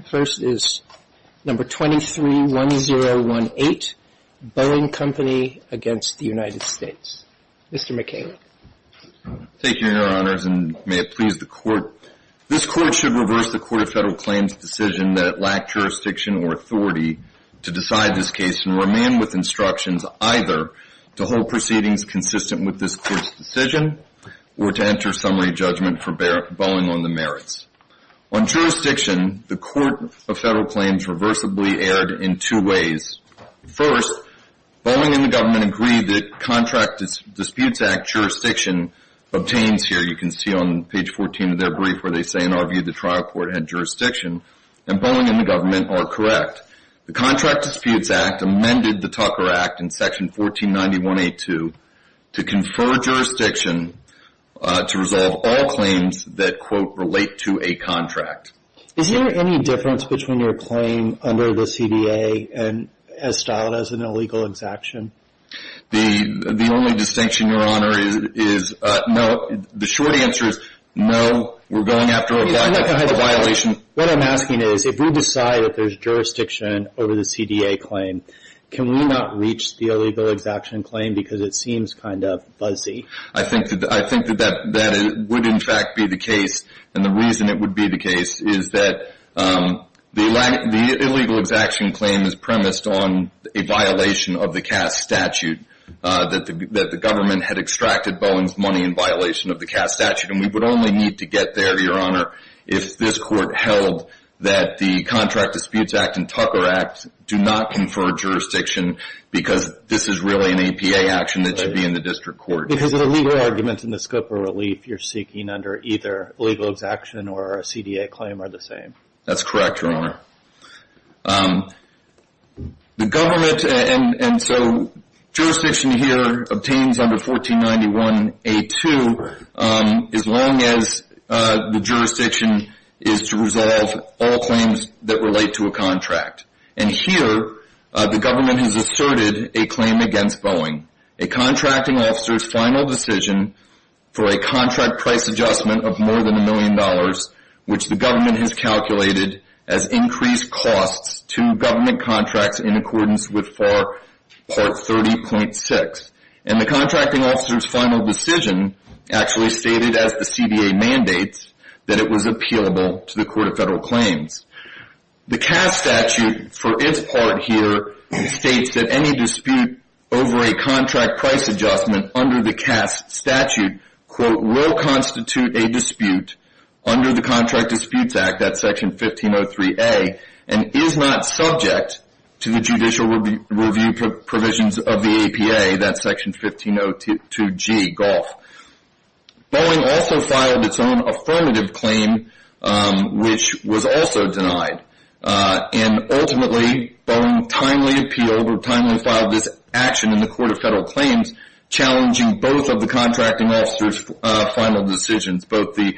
231018 Boeing Company v. United States Mr. McKayla Thank you, Your Honors, and may it please the Court, This Court should reverse the Court of Federal Claims' decision that it lacked jurisdiction or authority to decide this case and remain with instructions either to hold proceedings consistent with this Court's decision or to enter summary judgment for Boeing on the merits. On jurisdiction, the Court of Federal Claims reversibly erred in two ways. First, Boeing and the government agree that Contract Disputes Act jurisdiction obtains here you can see on page 14 of their brief where they say, in our view, the trial court had jurisdiction, and Boeing and the government are correct. The Contract Disputes Act amended the Tucker Act in section 1491A2 to confer jurisdiction to resolve all claims that, quote, relate to a contract. Is there any difference between your claim under the CDA and as styled as an illegal exaction? The only distinction, Your Honor, is no, the short answer is no, we're going after a violation. What I'm asking is, if we decide that there's jurisdiction over the CDA claim, can we not reach the illegal exaction claim because it seems kind of fuzzy? I think that that would in fact be the case, and the reason it would be the case is that the illegal exaction claim is premised on a violation of the Cass statute, that the government had extracted Boeing's money in violation of the Cass statute, and we would only need to get there, Your Honor, if this Court held that the Contract Disputes Act and Tucker Act do not confer jurisdiction because this is really an APA action that should be in the district court. Because of the legal arguments in the scope of relief you're seeking under either illegal exaction or a CDA claim are the same? That's correct, Your Honor. The government, and so jurisdiction here obtains under 1491A2 as long as the jurisdiction is to resolve all claims that relate to a contract, and here the government has asserted a claim against Boeing, a contracting officer's final decision for a contract price adjustment of more than a million dollars, which the government has calculated as increased costs to government contracts in accordance with FAR Part 30.6, and the contracting officer's final decision actually stated as the CDA mandates that it was appealable to the Court of Federal Claims. The Cass statute, for its part here, states that any dispute over a contract price adjustment under the Cass statute, quote, will constitute a dispute under the Contract Disputes Act, that's Section 1503A, and is not subject to the judicial review provisions of the APA, that's Section 1502G, Gulf. Boeing also filed its own affirmative claim, which was also denied, and ultimately, Boeing timely appealed, or timely filed this action in the Court of Federal Claims, challenging both of the contracting officer's final decisions, both the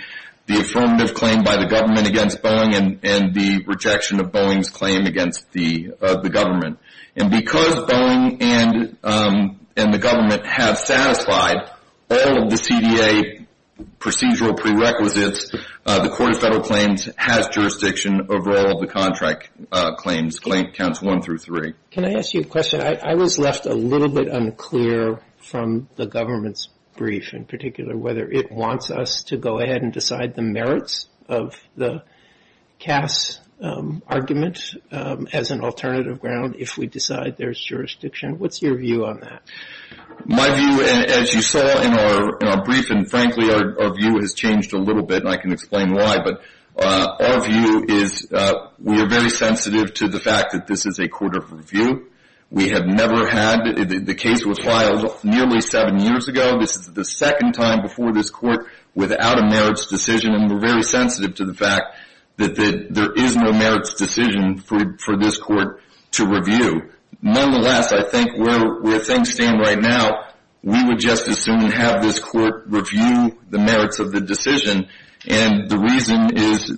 affirmative claim by the government against Boeing and the rejection of Boeing's claim against the government. And because Boeing and the government have satisfied all of the CDA procedural prerequisites, the Court of Federal Claims has jurisdiction over all of the contract claims, counts one through three. Can I ask you a question? I was left a little bit unclear from the government's brief, in particular, whether it wants us to go ahead and decide the merits of the Cass argument as an alternative ground if we decide there's jurisdiction. What's your view on that? My view, as you saw in our brief, and frankly, our view has changed a little bit, and I can explain why, but our view is we are very sensitive to the fact that this is a court of review. We have never had, the case was filed nearly seven years ago, this is the second time before this court, without a merits decision, and we're very sensitive to the fact that there is no merits decision for this court to review. Nonetheless, I think where things stand right now, we would just as soon have this court review the merits of the decision, and the reason is,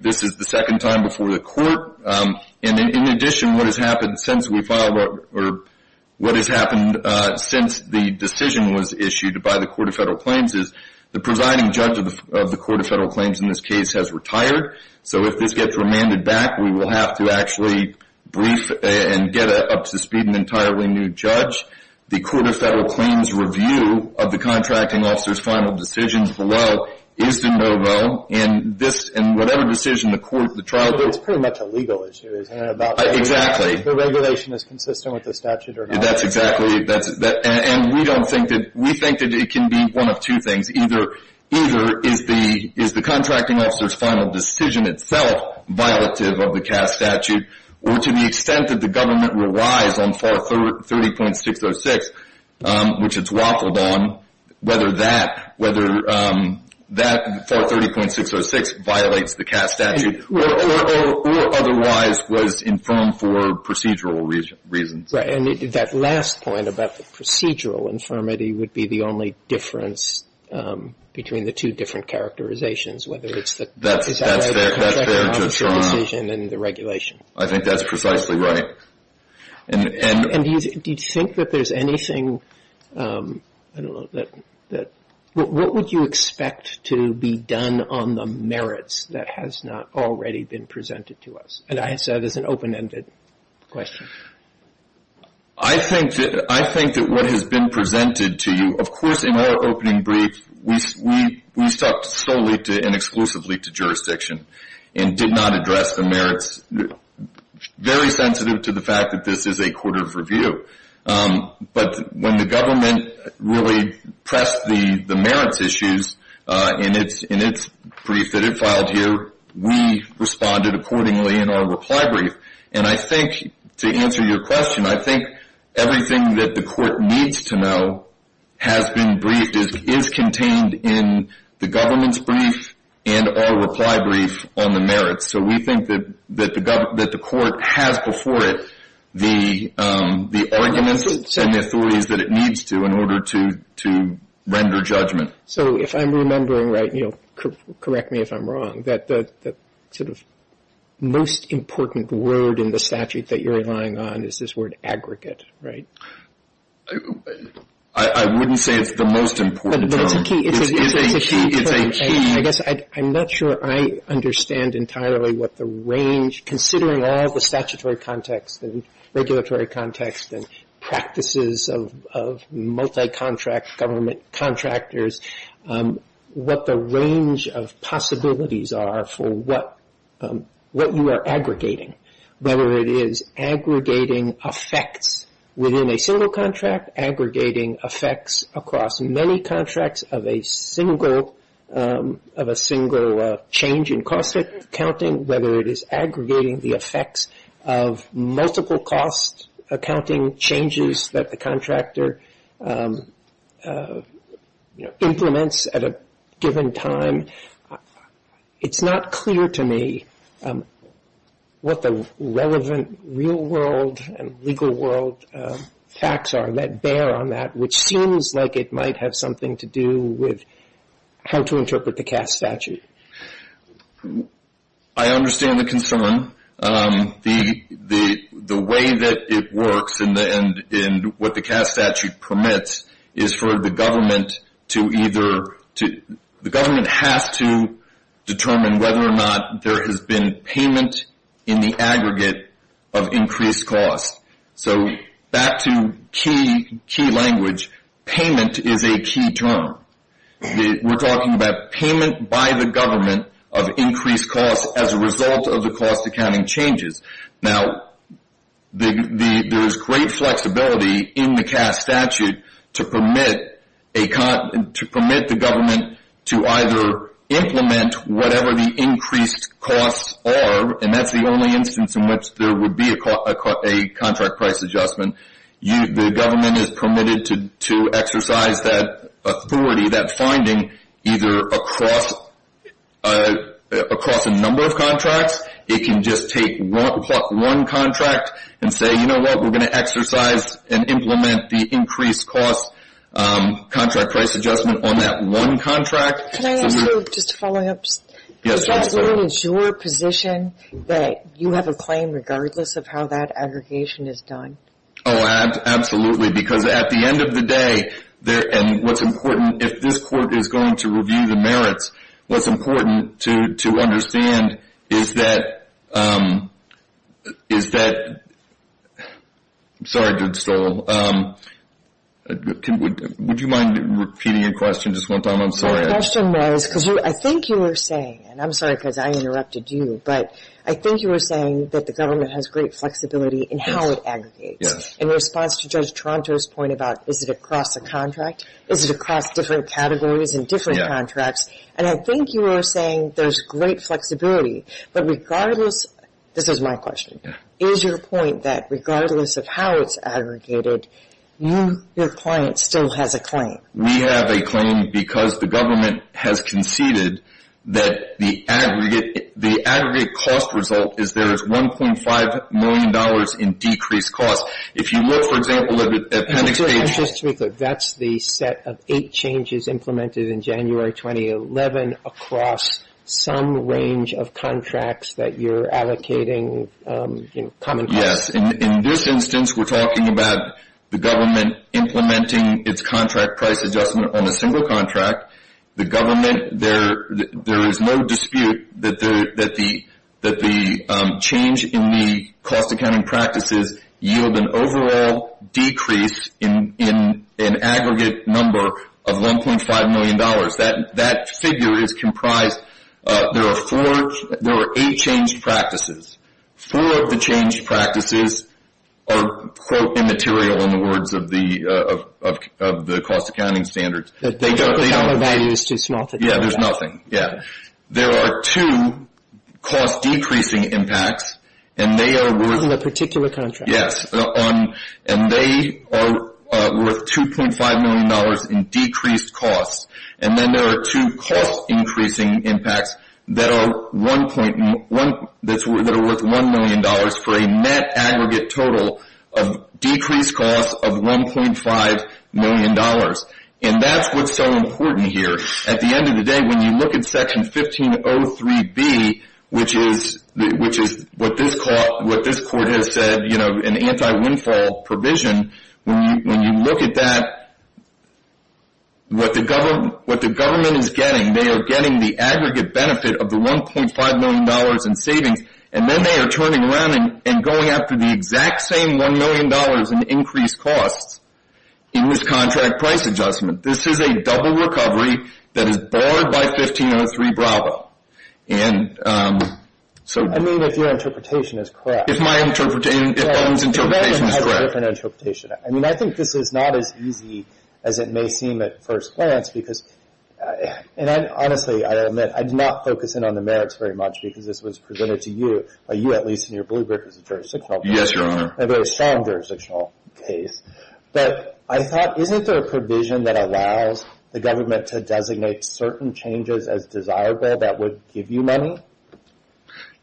this is the second time before the court, and in addition, what has happened since we filed, or what has happened since the decision was issued by the Court of Federal Claims is, the presiding judge of the Court of Federal Claims in this case has retired, so if this gets remanded back, we will have to actually brief and get up to speed an entirely new judge. The Court of Federal Claims review of the contracting officer's final decision below is de novo, and whatever decision the court, the trial, It's pretty much a legal issue, isn't it? Exactly. The regulation is consistent with the statute or not? That's exactly, and we don't think that, we think that it can be one of two things. Either, is the contracting officer's final decision itself violative of the CAST statute, or to the extent that the government relies on FAR 30.606, which it's waffled on, whether that FAR 30.606 violates the CAST statute, or otherwise was infirmed for procedural reasons. Right, and that last point about the procedural infirmity would be the only difference between the two different characterizations, whether it's the That's fair. Is that right, the contracting officer's decision and the regulation? I think that's precisely right. And do you think that there's anything, I don't know, that, what would you expect to be done on the merits that has not already been presented to us? And I answer that as an open-ended question. I think that what has been presented to you, of course, in our opening brief, we stuck solely and exclusively to jurisdiction, and did not address the merits, very sensitive to the fact that this is a court of review. But when the government really pressed the merits issues in its brief that it filed here, we responded accordingly in our reply brief. And I think, to answer your question, I think everything that the court needs to know has been briefed, is contained in the government's brief and our reply brief on the merits. So we think that the court has before it the arguments and the authorities that it needs to in order to render judgment. So if I'm remembering right, correct me if I'm wrong, that the sort of most important word in the statute that you're relying on is this word aggregate, right? I wouldn't say it's the most important term. But it's a key term. I guess I'm not sure I understand entirely what the range, considering all the statutory context and regulatory context and practices of multi-contract government contractors, what the range of possibilities are for what you are aggregating. Whether it is aggregating effects within a single contract, aggregating effects across many contracts of a single change in cost accounting, whether it is aggregating the multiple cost accounting changes that the contractor implements at a given time. It's not clear to me what the relevant real world and legal world facts are that bear on that, which seems like it might have something to do with how to interpret the Cass statute. I understand the concern. The way that it works and what the Cass statute permits is for the government to either, the government has to determine whether or not there has been payment in the aggregate of increased cost. So back to key language, payment is a key term. We're talking about payment by the government of increased cost as a result of the cost accounting changes. Now, there is great flexibility in the Cass statute to permit a, to permit the government to either implement whatever the increased costs are, and that's the only instance in which there would be a contract price adjustment. The government is permitted to exercise that authority, that finding, either across a number of contracts. It can just take one contract and say, you know what, we're going to exercise and implement the increased cost contract price adjustment on that one contract. Can I ask you just a following up? Yes. Is that really your position that you have a claim regardless of how that aggregation is done? Oh, absolutely, because at the end of the day, there, and what's important, if this court is going to review the merits, what's important to understand is that, is that, sorry Jud Stoll, would you mind repeating your question just one time? I'm sorry. My question was, because I think you were saying, and I'm sorry because I interrupted you, but I think you were saying that the government has great flexibility in how it aggregates. Yes. In response to Judge Toronto's point about, is it across a contract, is it across different categories and different contracts, and I think you were saying there's great flexibility, but regardless, this is my question, is your point that regardless of how it's aggregated, you, your client, still has a claim? We have a claim because the government has conceded that the aggregate, the aggregate cost result is there is $1.5 million in decreased costs. If you look, for example, at the appendix page. I'm sorry, just to be clear, that's the set of eight changes implemented in January 2011 across some range of contracts that you're allocating, you know, common costs? Yes. In this instance, we're talking about the government implementing its contract price adjustment on a single contract. The government, there is no dispute that the change in the cost accounting practices yield an overall decrease in an aggregate number of $1.5 million. That figure is comprised, there are four, there are eight changed practices. Four of the changed practices are, quote, immaterial in the words of the, of the cost accounting standards. They don't, they don't. The total value is too small to tell. Yeah, there's nothing. Yeah. There are two cost decreasing impacts, and they are worth. In the particular contract. Yes. On, and they are worth $2.5 million in decreased costs, and then there are two cost increasing impacts that are worth $1 million for a net aggregate total of decreased costs of $1.5 million, and that's what's so important here. At the end of the day, when you look at Section 1503B, which is what this court has said, you know, an anti-windfall provision, when you look at that, what the government is getting, they are getting the aggregate benefit of the $1.5 million in savings, and then they are turning around and going after the exact same $1 million in increased costs in this contract price adjustment. This is a double recovery that is barred by 1503B. And, so. I mean, if your interpretation is correct. If my interpretation, if Owen's interpretation is correct. Yeah, your government has a different interpretation. I mean, I think this is not as easy as it may seem at first glance, because, and I honestly, I admit, I do not focus in on the merits very much, because this was presented to you, by you at least, in your blue brick as a jurisdictional case. Yes, Your Honor. A very strong jurisdictional case. But, I thought, isn't there a provision that allows the government to designate certain changes as desirable that would give you money?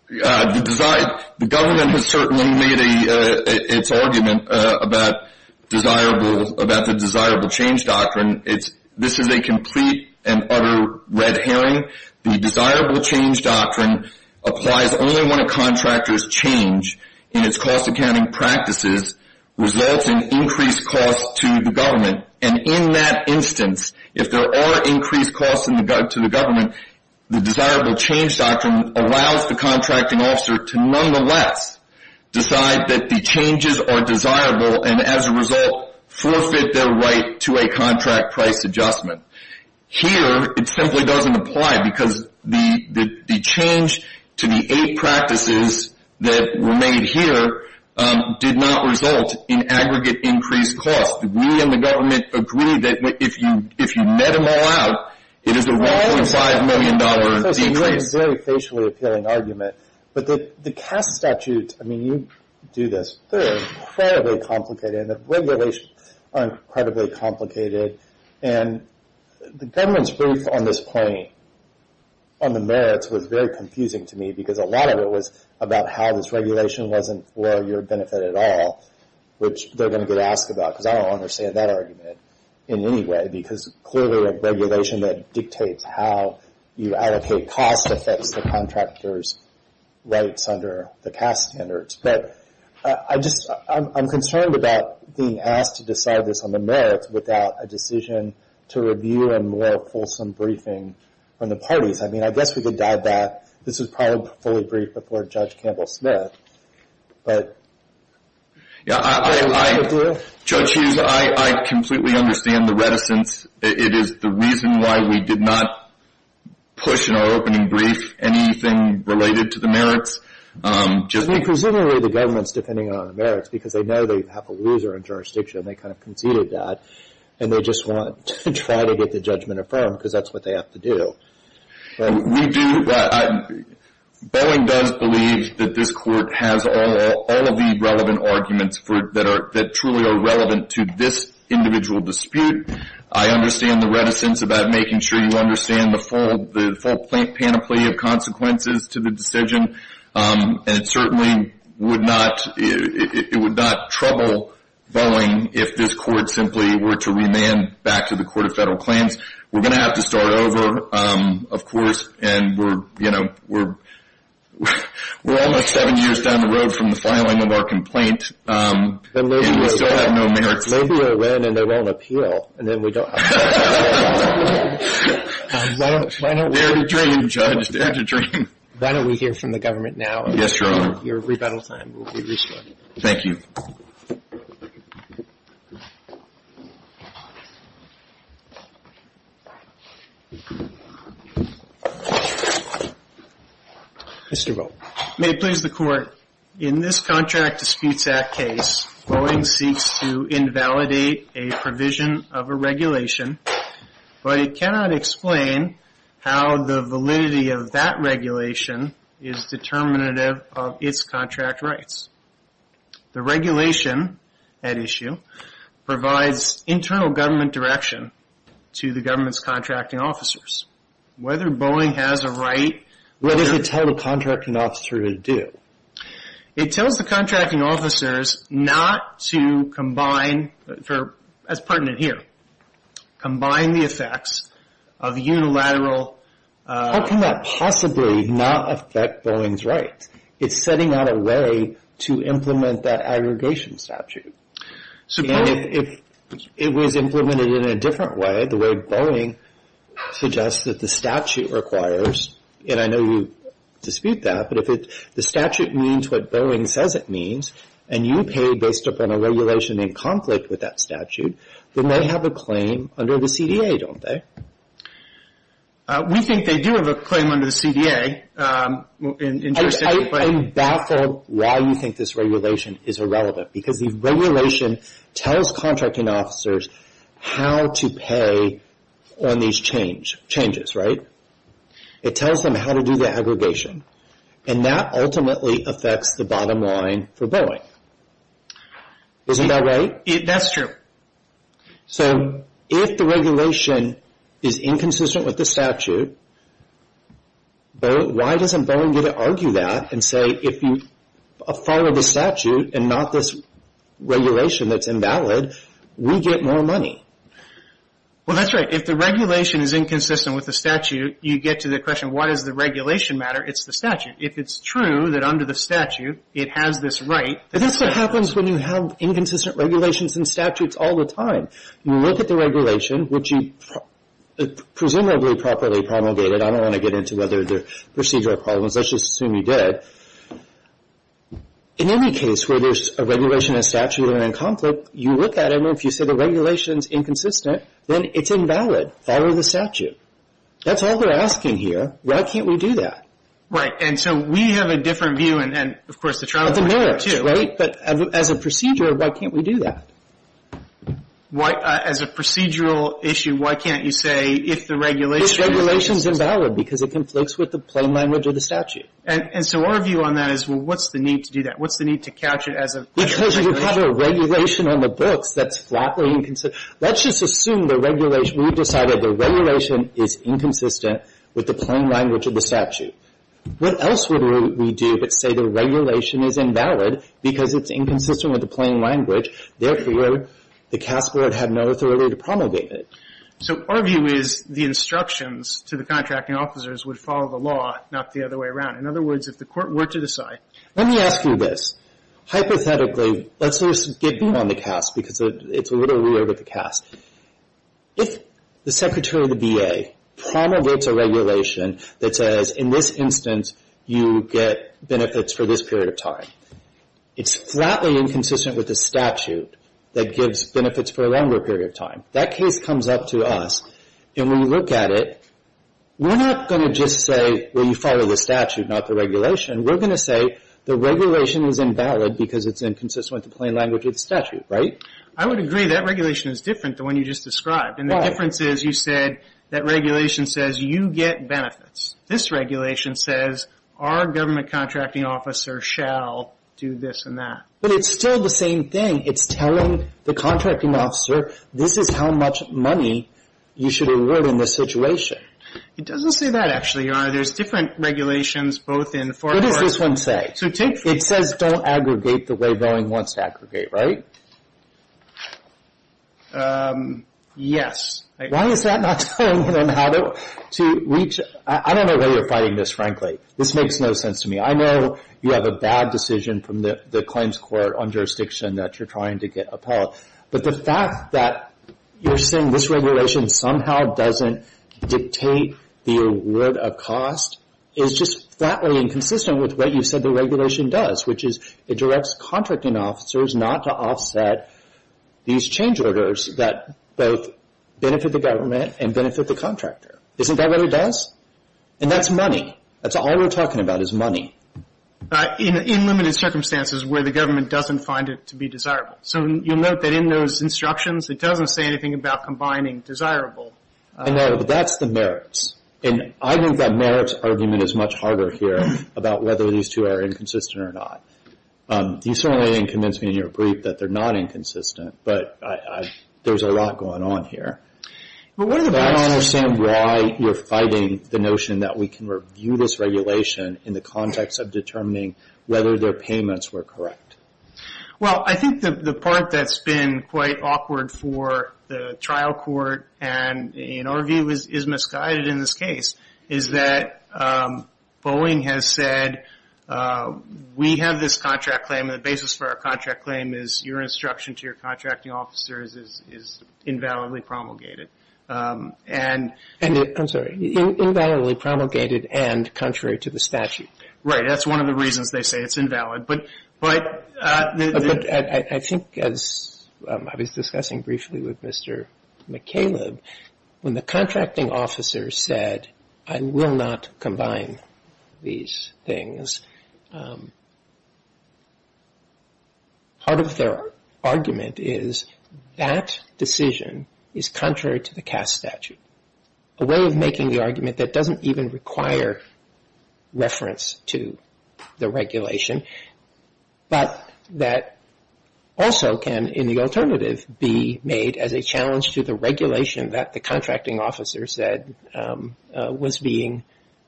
The government has certainly made its argument about desirable, about the desirable change doctrine. This is a complete and utter red herring. The desirable change doctrine applies only when a contractor's change in its cost accounting practices results in increased costs to the government. And, in that instance, if there are increased costs to the government, the desirable change doctrine allows the contracting officer to, nonetheless, decide that the changes are desirable and, as a result, forfeit their right to a contract price adjustment. Here, it simply doesn't apply, because the change to the eight practices that were made here did not result in aggregate increased costs. We and the government agree that if you met them all out, it is a $1.5 million decrease. It's a very, very facially appealing argument. But, the CAST statutes, I mean, you do this, they're incredibly complicated. And, the regulations are incredibly complicated. And, the government's brief on this point, on the merits, was very confusing to me. Because, a lot of it was about how this regulation wasn't for your benefit at all, which they're going to get asked about. Because, I don't understand that argument in any way. Because, clearly, a regulation that dictates how you allocate costs affects the contractor's rights under the CAST standards. But, I just, I'm concerned about being asked to decide this on the merits without a decision to review a more fulsome briefing from the parties. I mean, I guess we could dive back. This was probably fully briefed before Judge Campbell-Smith. But... Yeah, I... Judge Hughes, I completely understand the reticence. It is the reason why we did not push in our opening brief anything related to the merits. I mean, presumably, the government's depending on the merits. Because, they know they have a loser in jurisdiction. And, they kind of conceded that. And, they just want to try to get the judgment affirmed. Because, that's what they have to do. Well, we do... Boeing does believe that this court has all of the relevant arguments that truly are relevant to this individual dispute. I understand the reticence about making sure you understand the full panoply of consequences to the decision. And, it certainly would not... It would not trouble Boeing if this court simply were to remand back to the Court of Federal Claims. We're going to have to start over, of course. And, we're, you know, we're almost seven years down the road from the filing of our complaint. And, we still have no merits. Maybe they'll win, and they won't appeal. And, then we don't have to appeal. Dare to dream, Judge. Dare to dream. Why don't we hear from the government now? Yes, Your Honor. Your rebuttal time will be restored. Thank you. Mr. Rowe. May it please the Court. In this Contract Disputes Act case, Boeing seeks to invalidate a provision of a regulation. But, it cannot explain how the validity of that regulation is determinative of its contract rights. The regulation at issue provides internal government direction to the government's contracting officers. Whether Boeing has a right... What does it tell the contracting officer to do? It tells the contracting officers not to combine, as pertinent here, combine the effects of unilateral... How can that possibly not affect Boeing's rights? It's setting out a way to implement that aggregation statute. If it was implemented in a different way, the way Boeing suggests that the statute requires, and I know you dispute that, but if the statute means what Boeing says it means, and you pay based upon a regulation in conflict with that statute, then they have a claim under the CDA, don't they? We think they do have a claim under the CDA. I'm baffled why you think this regulation is irrelevant, because the regulation tells contracting officers how to pay on these changes, right? It tells them how to do the aggregation, and that ultimately affects the bottom line for Boeing. Isn't that right? That's true. So, if the regulation is inconsistent with the statute, why doesn't Boeing get to argue that and say, if you follow the statute and not this regulation that's invalid, we get more money? Well, that's right. If the regulation is inconsistent with the statute, you get to the question, why does the regulation matter? It's the statute. If it's true that under the statute it has this right... That's what happens when you have inconsistent regulations and statutes all the time. You look at the regulation, which you presumably properly promulgated. I don't want to get into whether there are procedural problems. Let's just assume you did. In any case where there's a regulation and statute that are in conflict, you look at it, and if you say the regulation is inconsistent, then it's invalid. Follow the statute. That's all they're asking here. Why can't we do that? Right. And so, we have a different view, and, of course, the travel board does too. Of the merits, right? But as a procedure, why can't we do that? As a procedural issue, why can't you say if the regulation... If the regulation is invalid, because it conflicts with the plain language of the statute. And so our view on that is, well, what's the need to do that? What's the need to couch it as a... Because you have a regulation on the books that's flatly inconsistent. Let's just assume the regulation... We've decided the regulation is inconsistent with the plain language of the statute. What else would we do but say the regulation is invalid, because it's inconsistent with the plain language. Therefore, the CAS board had no authority to promulgate it. So our view is the instructions to the contracting officers would follow the law, not the other way around. In other words, if the court were to decide... Let me ask you this. Hypothetically, let's just get beyond the CAS, because it's a little weird with the CAS. If the secretary of the B.A. promulgates a regulation that says, in this instance, you get benefits for this period of time, it's flatly inconsistent with the statute that gives benefits for a longer period of time. That case comes up to us, and when you look at it, we're not going to just say, well, you follow the statute, not the regulation. We're going to say the regulation is invalid, because it's inconsistent with the plain language of the statute, right? I would agree that regulation is different than the one you just described. And the difference is, you said that regulation says you get benefits. This regulation says our government contracting officer shall do this and that. But it's still the same thing. It's telling the contracting officer, this is how much money you should award in this situation. It doesn't say that, actually, Your Honor. There's different regulations, both in... What does this one say? It says don't aggregate the way Boeing wants to aggregate, right? Yes. Why is that not telling them how to reach... I don't know why you're fighting this, frankly. This makes no sense to me. I know you have a bad decision from the claims court on jurisdiction that you're trying to get upheld. But the fact that you're saying this regulation somehow doesn't dictate the award of cost is just flatly inconsistent with what you said the regulation does, which is it directs contracting officers not to offset these change orders that both benefit the government and benefit the contractor. Isn't that what it does? And that's money. That's all we're talking about is money. In limited circumstances where the government doesn't find it to be desirable. So you'll note that in those instructions, it doesn't say anything about combining desirable. I know, but that's the merits. And I think that merits argument is much harder here about whether these two are inconsistent or not. You certainly didn't convince me in your brief that they're not inconsistent, but there's a lot going on here. But I don't understand why you're fighting the notion that we can review this regulation in the context of determining whether their payments were correct. Well, I think the part that's been quite awkward for the trial court and in our view is misguided in this case, is that Boeing has said, we have this contract claim and the basis for our contract claim is your instruction to your contracting officers is invalidly promulgated. And I'm sorry, invalidly promulgated and contrary to the statute. Right, that's one of the reasons they say it's invalid. But I think as I was discussing briefly with Mr. McCaleb, when the contracting officer said, I will not combine these things, part of their argument is that decision is contrary to the CAST statute. A way of making the argument that doesn't even require reference to the regulation, but that also can, in the alternative, be made as a challenge to the regulation that the contracting officer said was being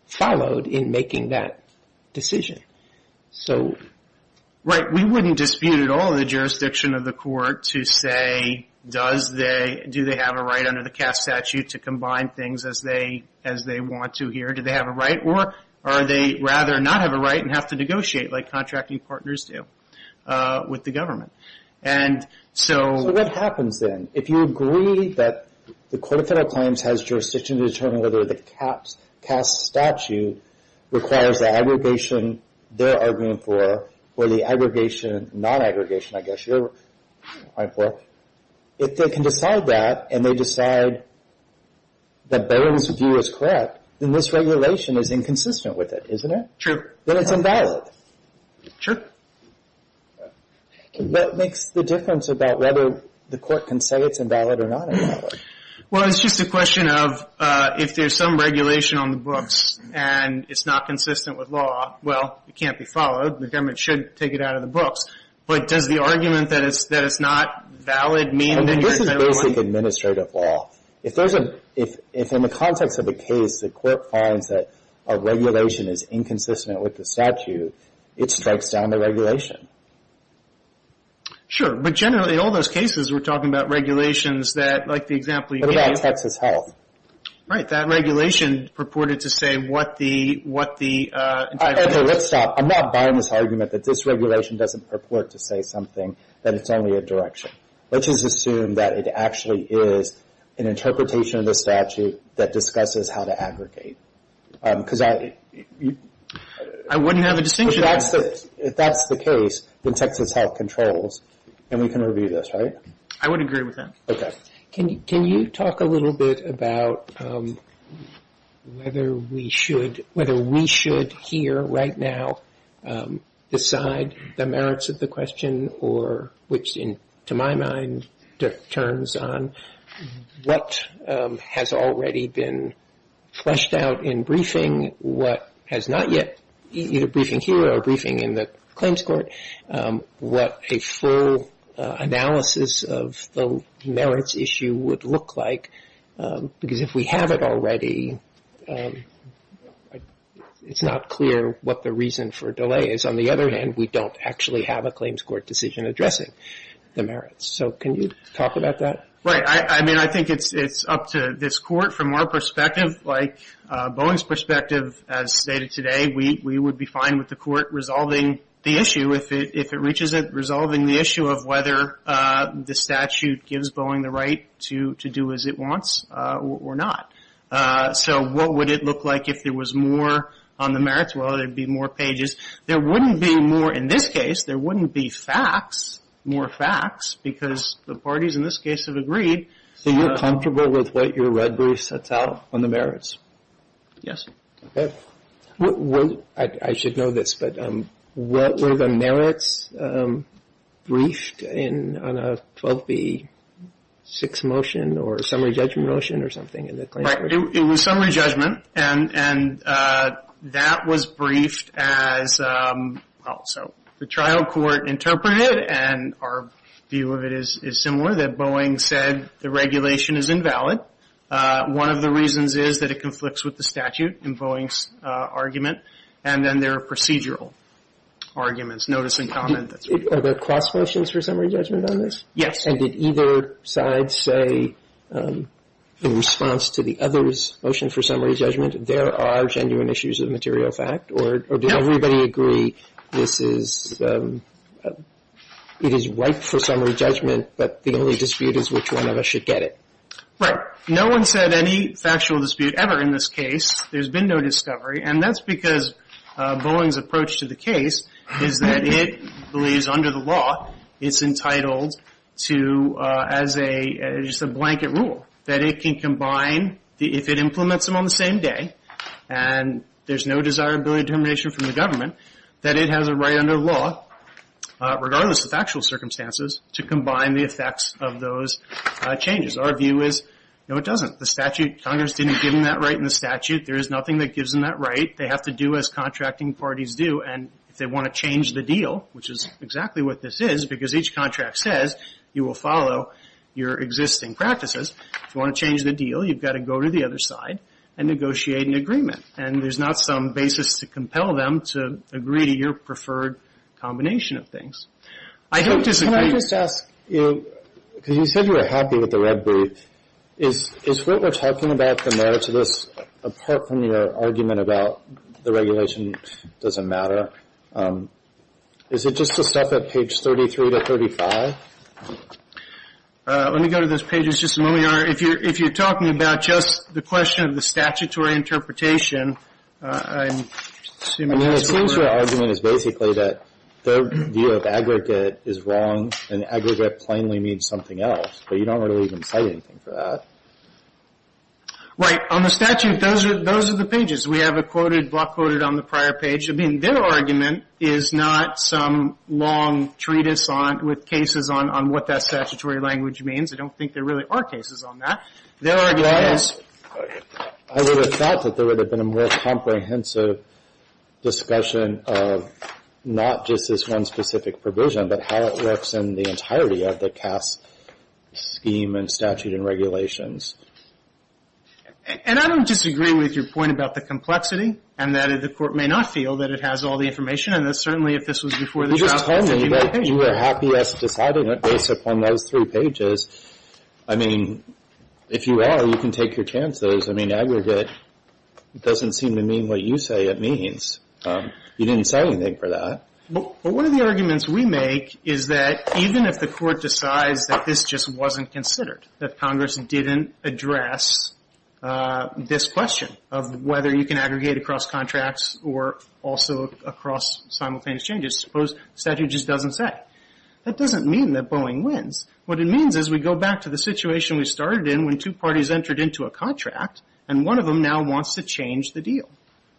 followed in making that decision. Right, we wouldn't dispute at all the jurisdiction of the court to say, do they have a right under the CAST statute to combine things as they want to here? Do they have a right? Or are they rather not have a right and have to negotiate like contracting partners do with the government? So what happens then? If you agree that the Court of Federal Claims has jurisdiction to determine whether the CAST statute requires the aggregation they're arguing for, or the aggregation, non-aggregation I guess you're arguing for, if they can decide that and they decide that Bowen's view is correct, then this regulation is inconsistent with it, isn't it? True. Then it's invalid. True. What makes the difference about whether the court can say it's invalid or not invalid? Well, it's just a question of if there's some regulation on the books and it's not consistent with law, well, it can't be followed. The government should take it out of the books. But does the argument that it's not valid mean that you're in favor of it? This is basic administrative law. If in the context of a case the court finds that a regulation is inconsistent with the statute, it strikes down the regulation. Sure. But generally in all those cases we're talking about regulations that, like the example you gave. What about Texas Health? Right. That regulation purported to say what the entitlement is. Okay. Let's stop. I'm not buying this argument that this regulation doesn't purport to say something that it's only a direction. Let's just assume that it actually is an interpretation of the statute that discusses how to aggregate. I wouldn't have a distinction. If that's the case, then Texas Health controls and we can review this, right? I would agree with that. Okay. Can you talk a little bit about whether we should hear right now decide the merits of the question or which, to my mind, turns on what has already been fleshed out in briefing, what has not yet, either briefing here or briefing in the claims court, what a full analysis of the merits issue would look like. Because if we have it already, it's not clear what the reason for delay is. On the other hand, we don't actually have a claims court decision addressing the merits. So can you talk about that? Right. I mean, I think it's up to this court. From our perspective, like Boeing's perspective as stated today, we would be fine with the court resolving the issue if it reaches it, the issue of whether the statute gives Boeing the right to do as it wants or not. So what would it look like if there was more on the merits? Would there be more pages? There wouldn't be more in this case. There wouldn't be facts, more facts, because the parties in this case have agreed. So you're comfortable with what your red brief sets out on the merits? Yes. Okay. I should know this, but were the merits briefed on a 12B6 motion or a summary judgment motion or something in the claims court? It was summary judgment. And that was briefed as the trial court interpreted it. And our view of it is similar, that Boeing said the regulation is invalid. One of the reasons is that it conflicts with the statute in Boeing's argument and then their procedural arguments, notice and comment. Are there cross motions for summary judgment on this? Yes. And did either side say in response to the other's motion for summary judgment, there are genuine issues of material fact? Or did everybody agree this is right for summary judgment, but the only dispute is which one of us should get it? Right. No one said any factual dispute ever in this case. There's been no discovery. And that's because Boeing's approach to the case is that it believes under the law, it's entitled to, as a blanket rule, that it can combine, if it implements them on the same day, and there's no desirability determination from the government, that it has a right under law, regardless of factual circumstances, to combine the effects of those changes. Our view is, no, it doesn't. The statute, Congress didn't give them that right in the statute. There is nothing that gives them that right. They have to do as contracting parties do. And if they want to change the deal, which is exactly what this is, because each contract says you will follow your existing practices, if you want to change the deal, you've got to go to the other side and negotiate an agreement. And there's not some basis to compel them to agree to your preferred combination of things. I don't disagree. Can I just ask you, because you said you were happy with the red brief, is what we're talking about, the merits of this, apart from your argument about the regulation doesn't matter, is it just the stuff at page 33 to 35? Let me go to those pages just a moment, Your Honor. If you're talking about just the question of the statutory interpretation, I'm assuming that's correct. I mean, it seems your argument is basically that their view of aggregate is wrong, and aggregate plainly means something else. But you don't really even cite anything for that. Right. On the statute, those are the pages. We have a block quoted on the prior page. I mean, their argument is not some long treatise with cases on what that statutory language means. I don't think there really are cases on that. Their argument is... I would have thought that there would have been a more comprehensive discussion of not just this one specific provision, but how it works in the entirety of the CAS scheme and statute and regulations. And I don't disagree with your point about the complexity, and that the Court may not feel that it has all the information, and that certainly if this was before the trial... You just told me that you were happiest deciding it based upon those three pages. I mean, if you are, you can take your chances. I mean, aggregate doesn't seem to mean what you say it means. You didn't cite anything for that. But one of the arguments we make is that even if the Court decides that this just wasn't considered, that Congress didn't address this question of whether you can aggregate across contracts or also across simultaneous changes, suppose the statute just doesn't say. That doesn't mean that Boeing wins. What it means is we go back to the situation we started in when two parties entered into a contract, and one of them now wants to change the deal.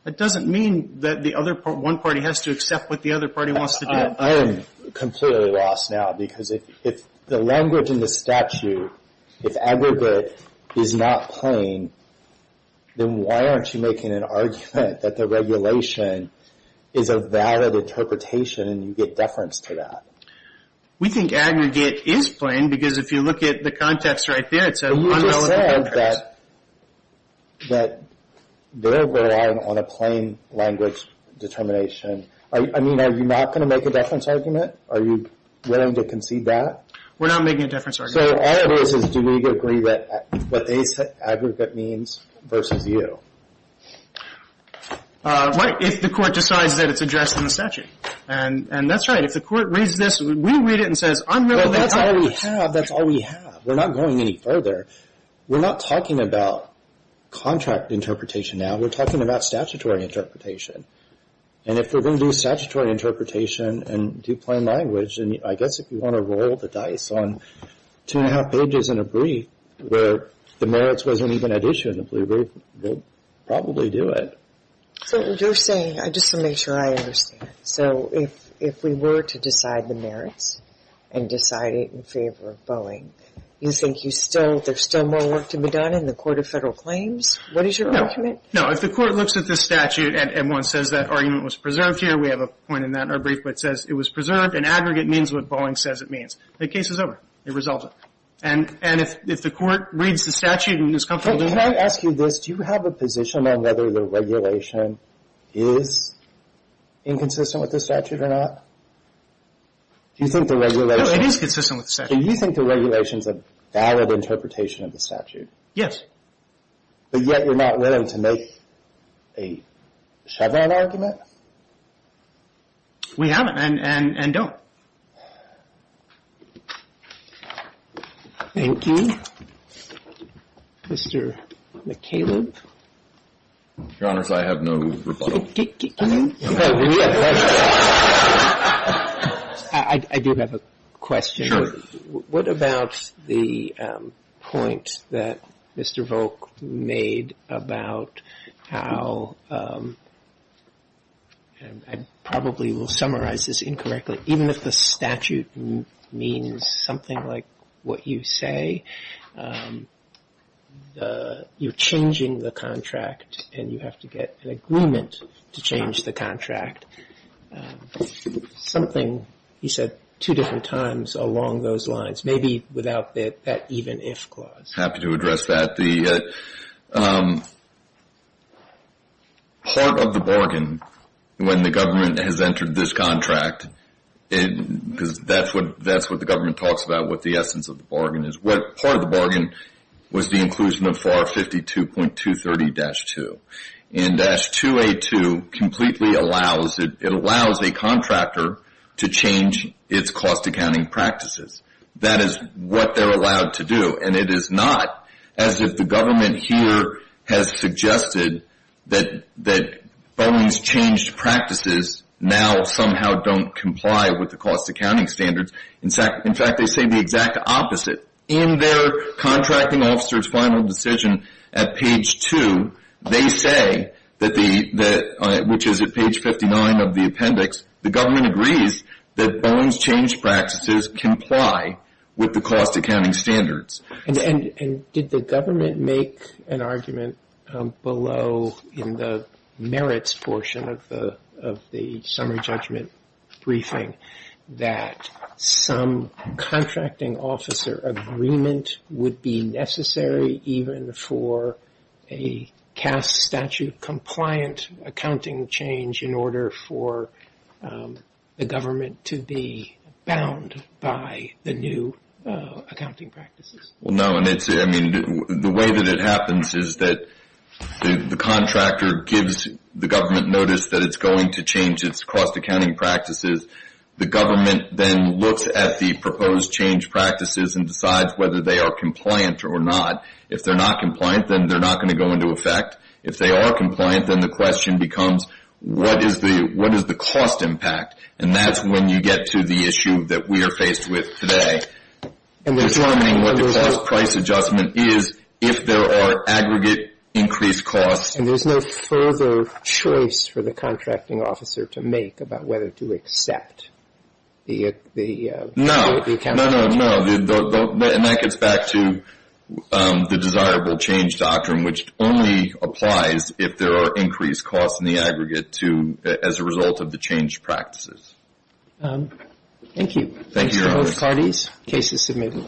That doesn't mean that one party has to accept what the other party wants to do. I am completely lost now, because if the language in the statute, if aggregate is not plain, then why aren't you making an argument that the regulation is a valid interpretation and you get deference to that? We think aggregate is plain, because if you look at the context right there, it's an unvalid contract. But you just said that they're relying on a plain language determination. I mean, are you not going to make a deference argument? Are you willing to concede that? We're not making a deference argument. So all it is, is do we agree that what they said aggregate means versus you? If the Court decides that it's addressed in the statute. And that's right. If the Court reads this, we read it and say, I'm willing to concede. That's all we have. We're not going any further. We're not talking about contract interpretation now. We're talking about statutory interpretation. And if we're going to do statutory interpretation and do plain language, I guess if you want to roll the dice on two and a half pages in a brief, where the merits wasn't even at issue in the blue brief, we'll probably do it. So what you're saying, just to make sure I understand. So if we were to decide the merits and decide it in favor of Boeing, you think there's still more work to be done in the Court of Federal Claims? What is your argument? No, if the Court looks at the statute and one says that argument was preserved here, we have a point in that in our brief, but it says it was preserved and aggregate means what Boeing says it means. The case is over. It resolves it. And if the Court reads the statute and is comfortable doing it. Do you have a position on whether the regulation is inconsistent with the statute or not? Do you think the regulation... No, it is consistent with the statute. Do you think the regulation is a valid interpretation of the statute? Yes. But yet you're not willing to make a Chevron argument? We haven't and don't. Thank you. Mr. McCaleb? Your Honor, I have no rebuttal. Can you? I do have a question. Sure. What about the point that Mr. Volk made about how... I probably will summarize this incorrectly. Even if the statute means something like what you say, you're changing the contract and you have to get an agreement to change the contract. Something, he said, two different times along those lines. Maybe without that even if clause. Happy to address that. Part of the bargain when the government has entered this contract, because that's what the government talks about, what the essence of the bargain is. Part of the bargain was the inclusion of FAR 52.230-2. And that's 2A2 completely allows... It allows a contractor to change its cost accounting practices. That is what they're allowed to do. And it is not as if the government here has suggested that Boeing's changed practices now somehow don't comply with the cost accounting standards. In fact, they say the exact opposite. In their contracting officer's final decision at page two, they say, which is at page 59 of the appendix, the government agrees that Boeing's changed practices comply with the cost accounting standards. And did the government make an argument below in the merits portion of the summary judgment briefing that some contracting officer agreement would be necessary even for a CAS statute compliant accounting change in order for the government to be bound by the new accounting practices? No. The way that it happens is that the contractor gives the government notice that it's going to change its cost accounting practices. The government then looks at the proposed change practices and decides whether they are compliant or not. If they're not compliant, then they're not going to go into effect. If they are compliant, then the question becomes, what is the cost impact? And that's when you get to the issue that we are faced with today. Determining what the cost price adjustment is if there are aggregate increased costs. And there's no further choice for the contracting officer to make about whether to accept the... No. No, no, no. And that gets back to the desirable change doctrine, which only applies if there are increased costs in the aggregate as a result of the change practices. Thank you. Thanks to both parties. Case is submitted.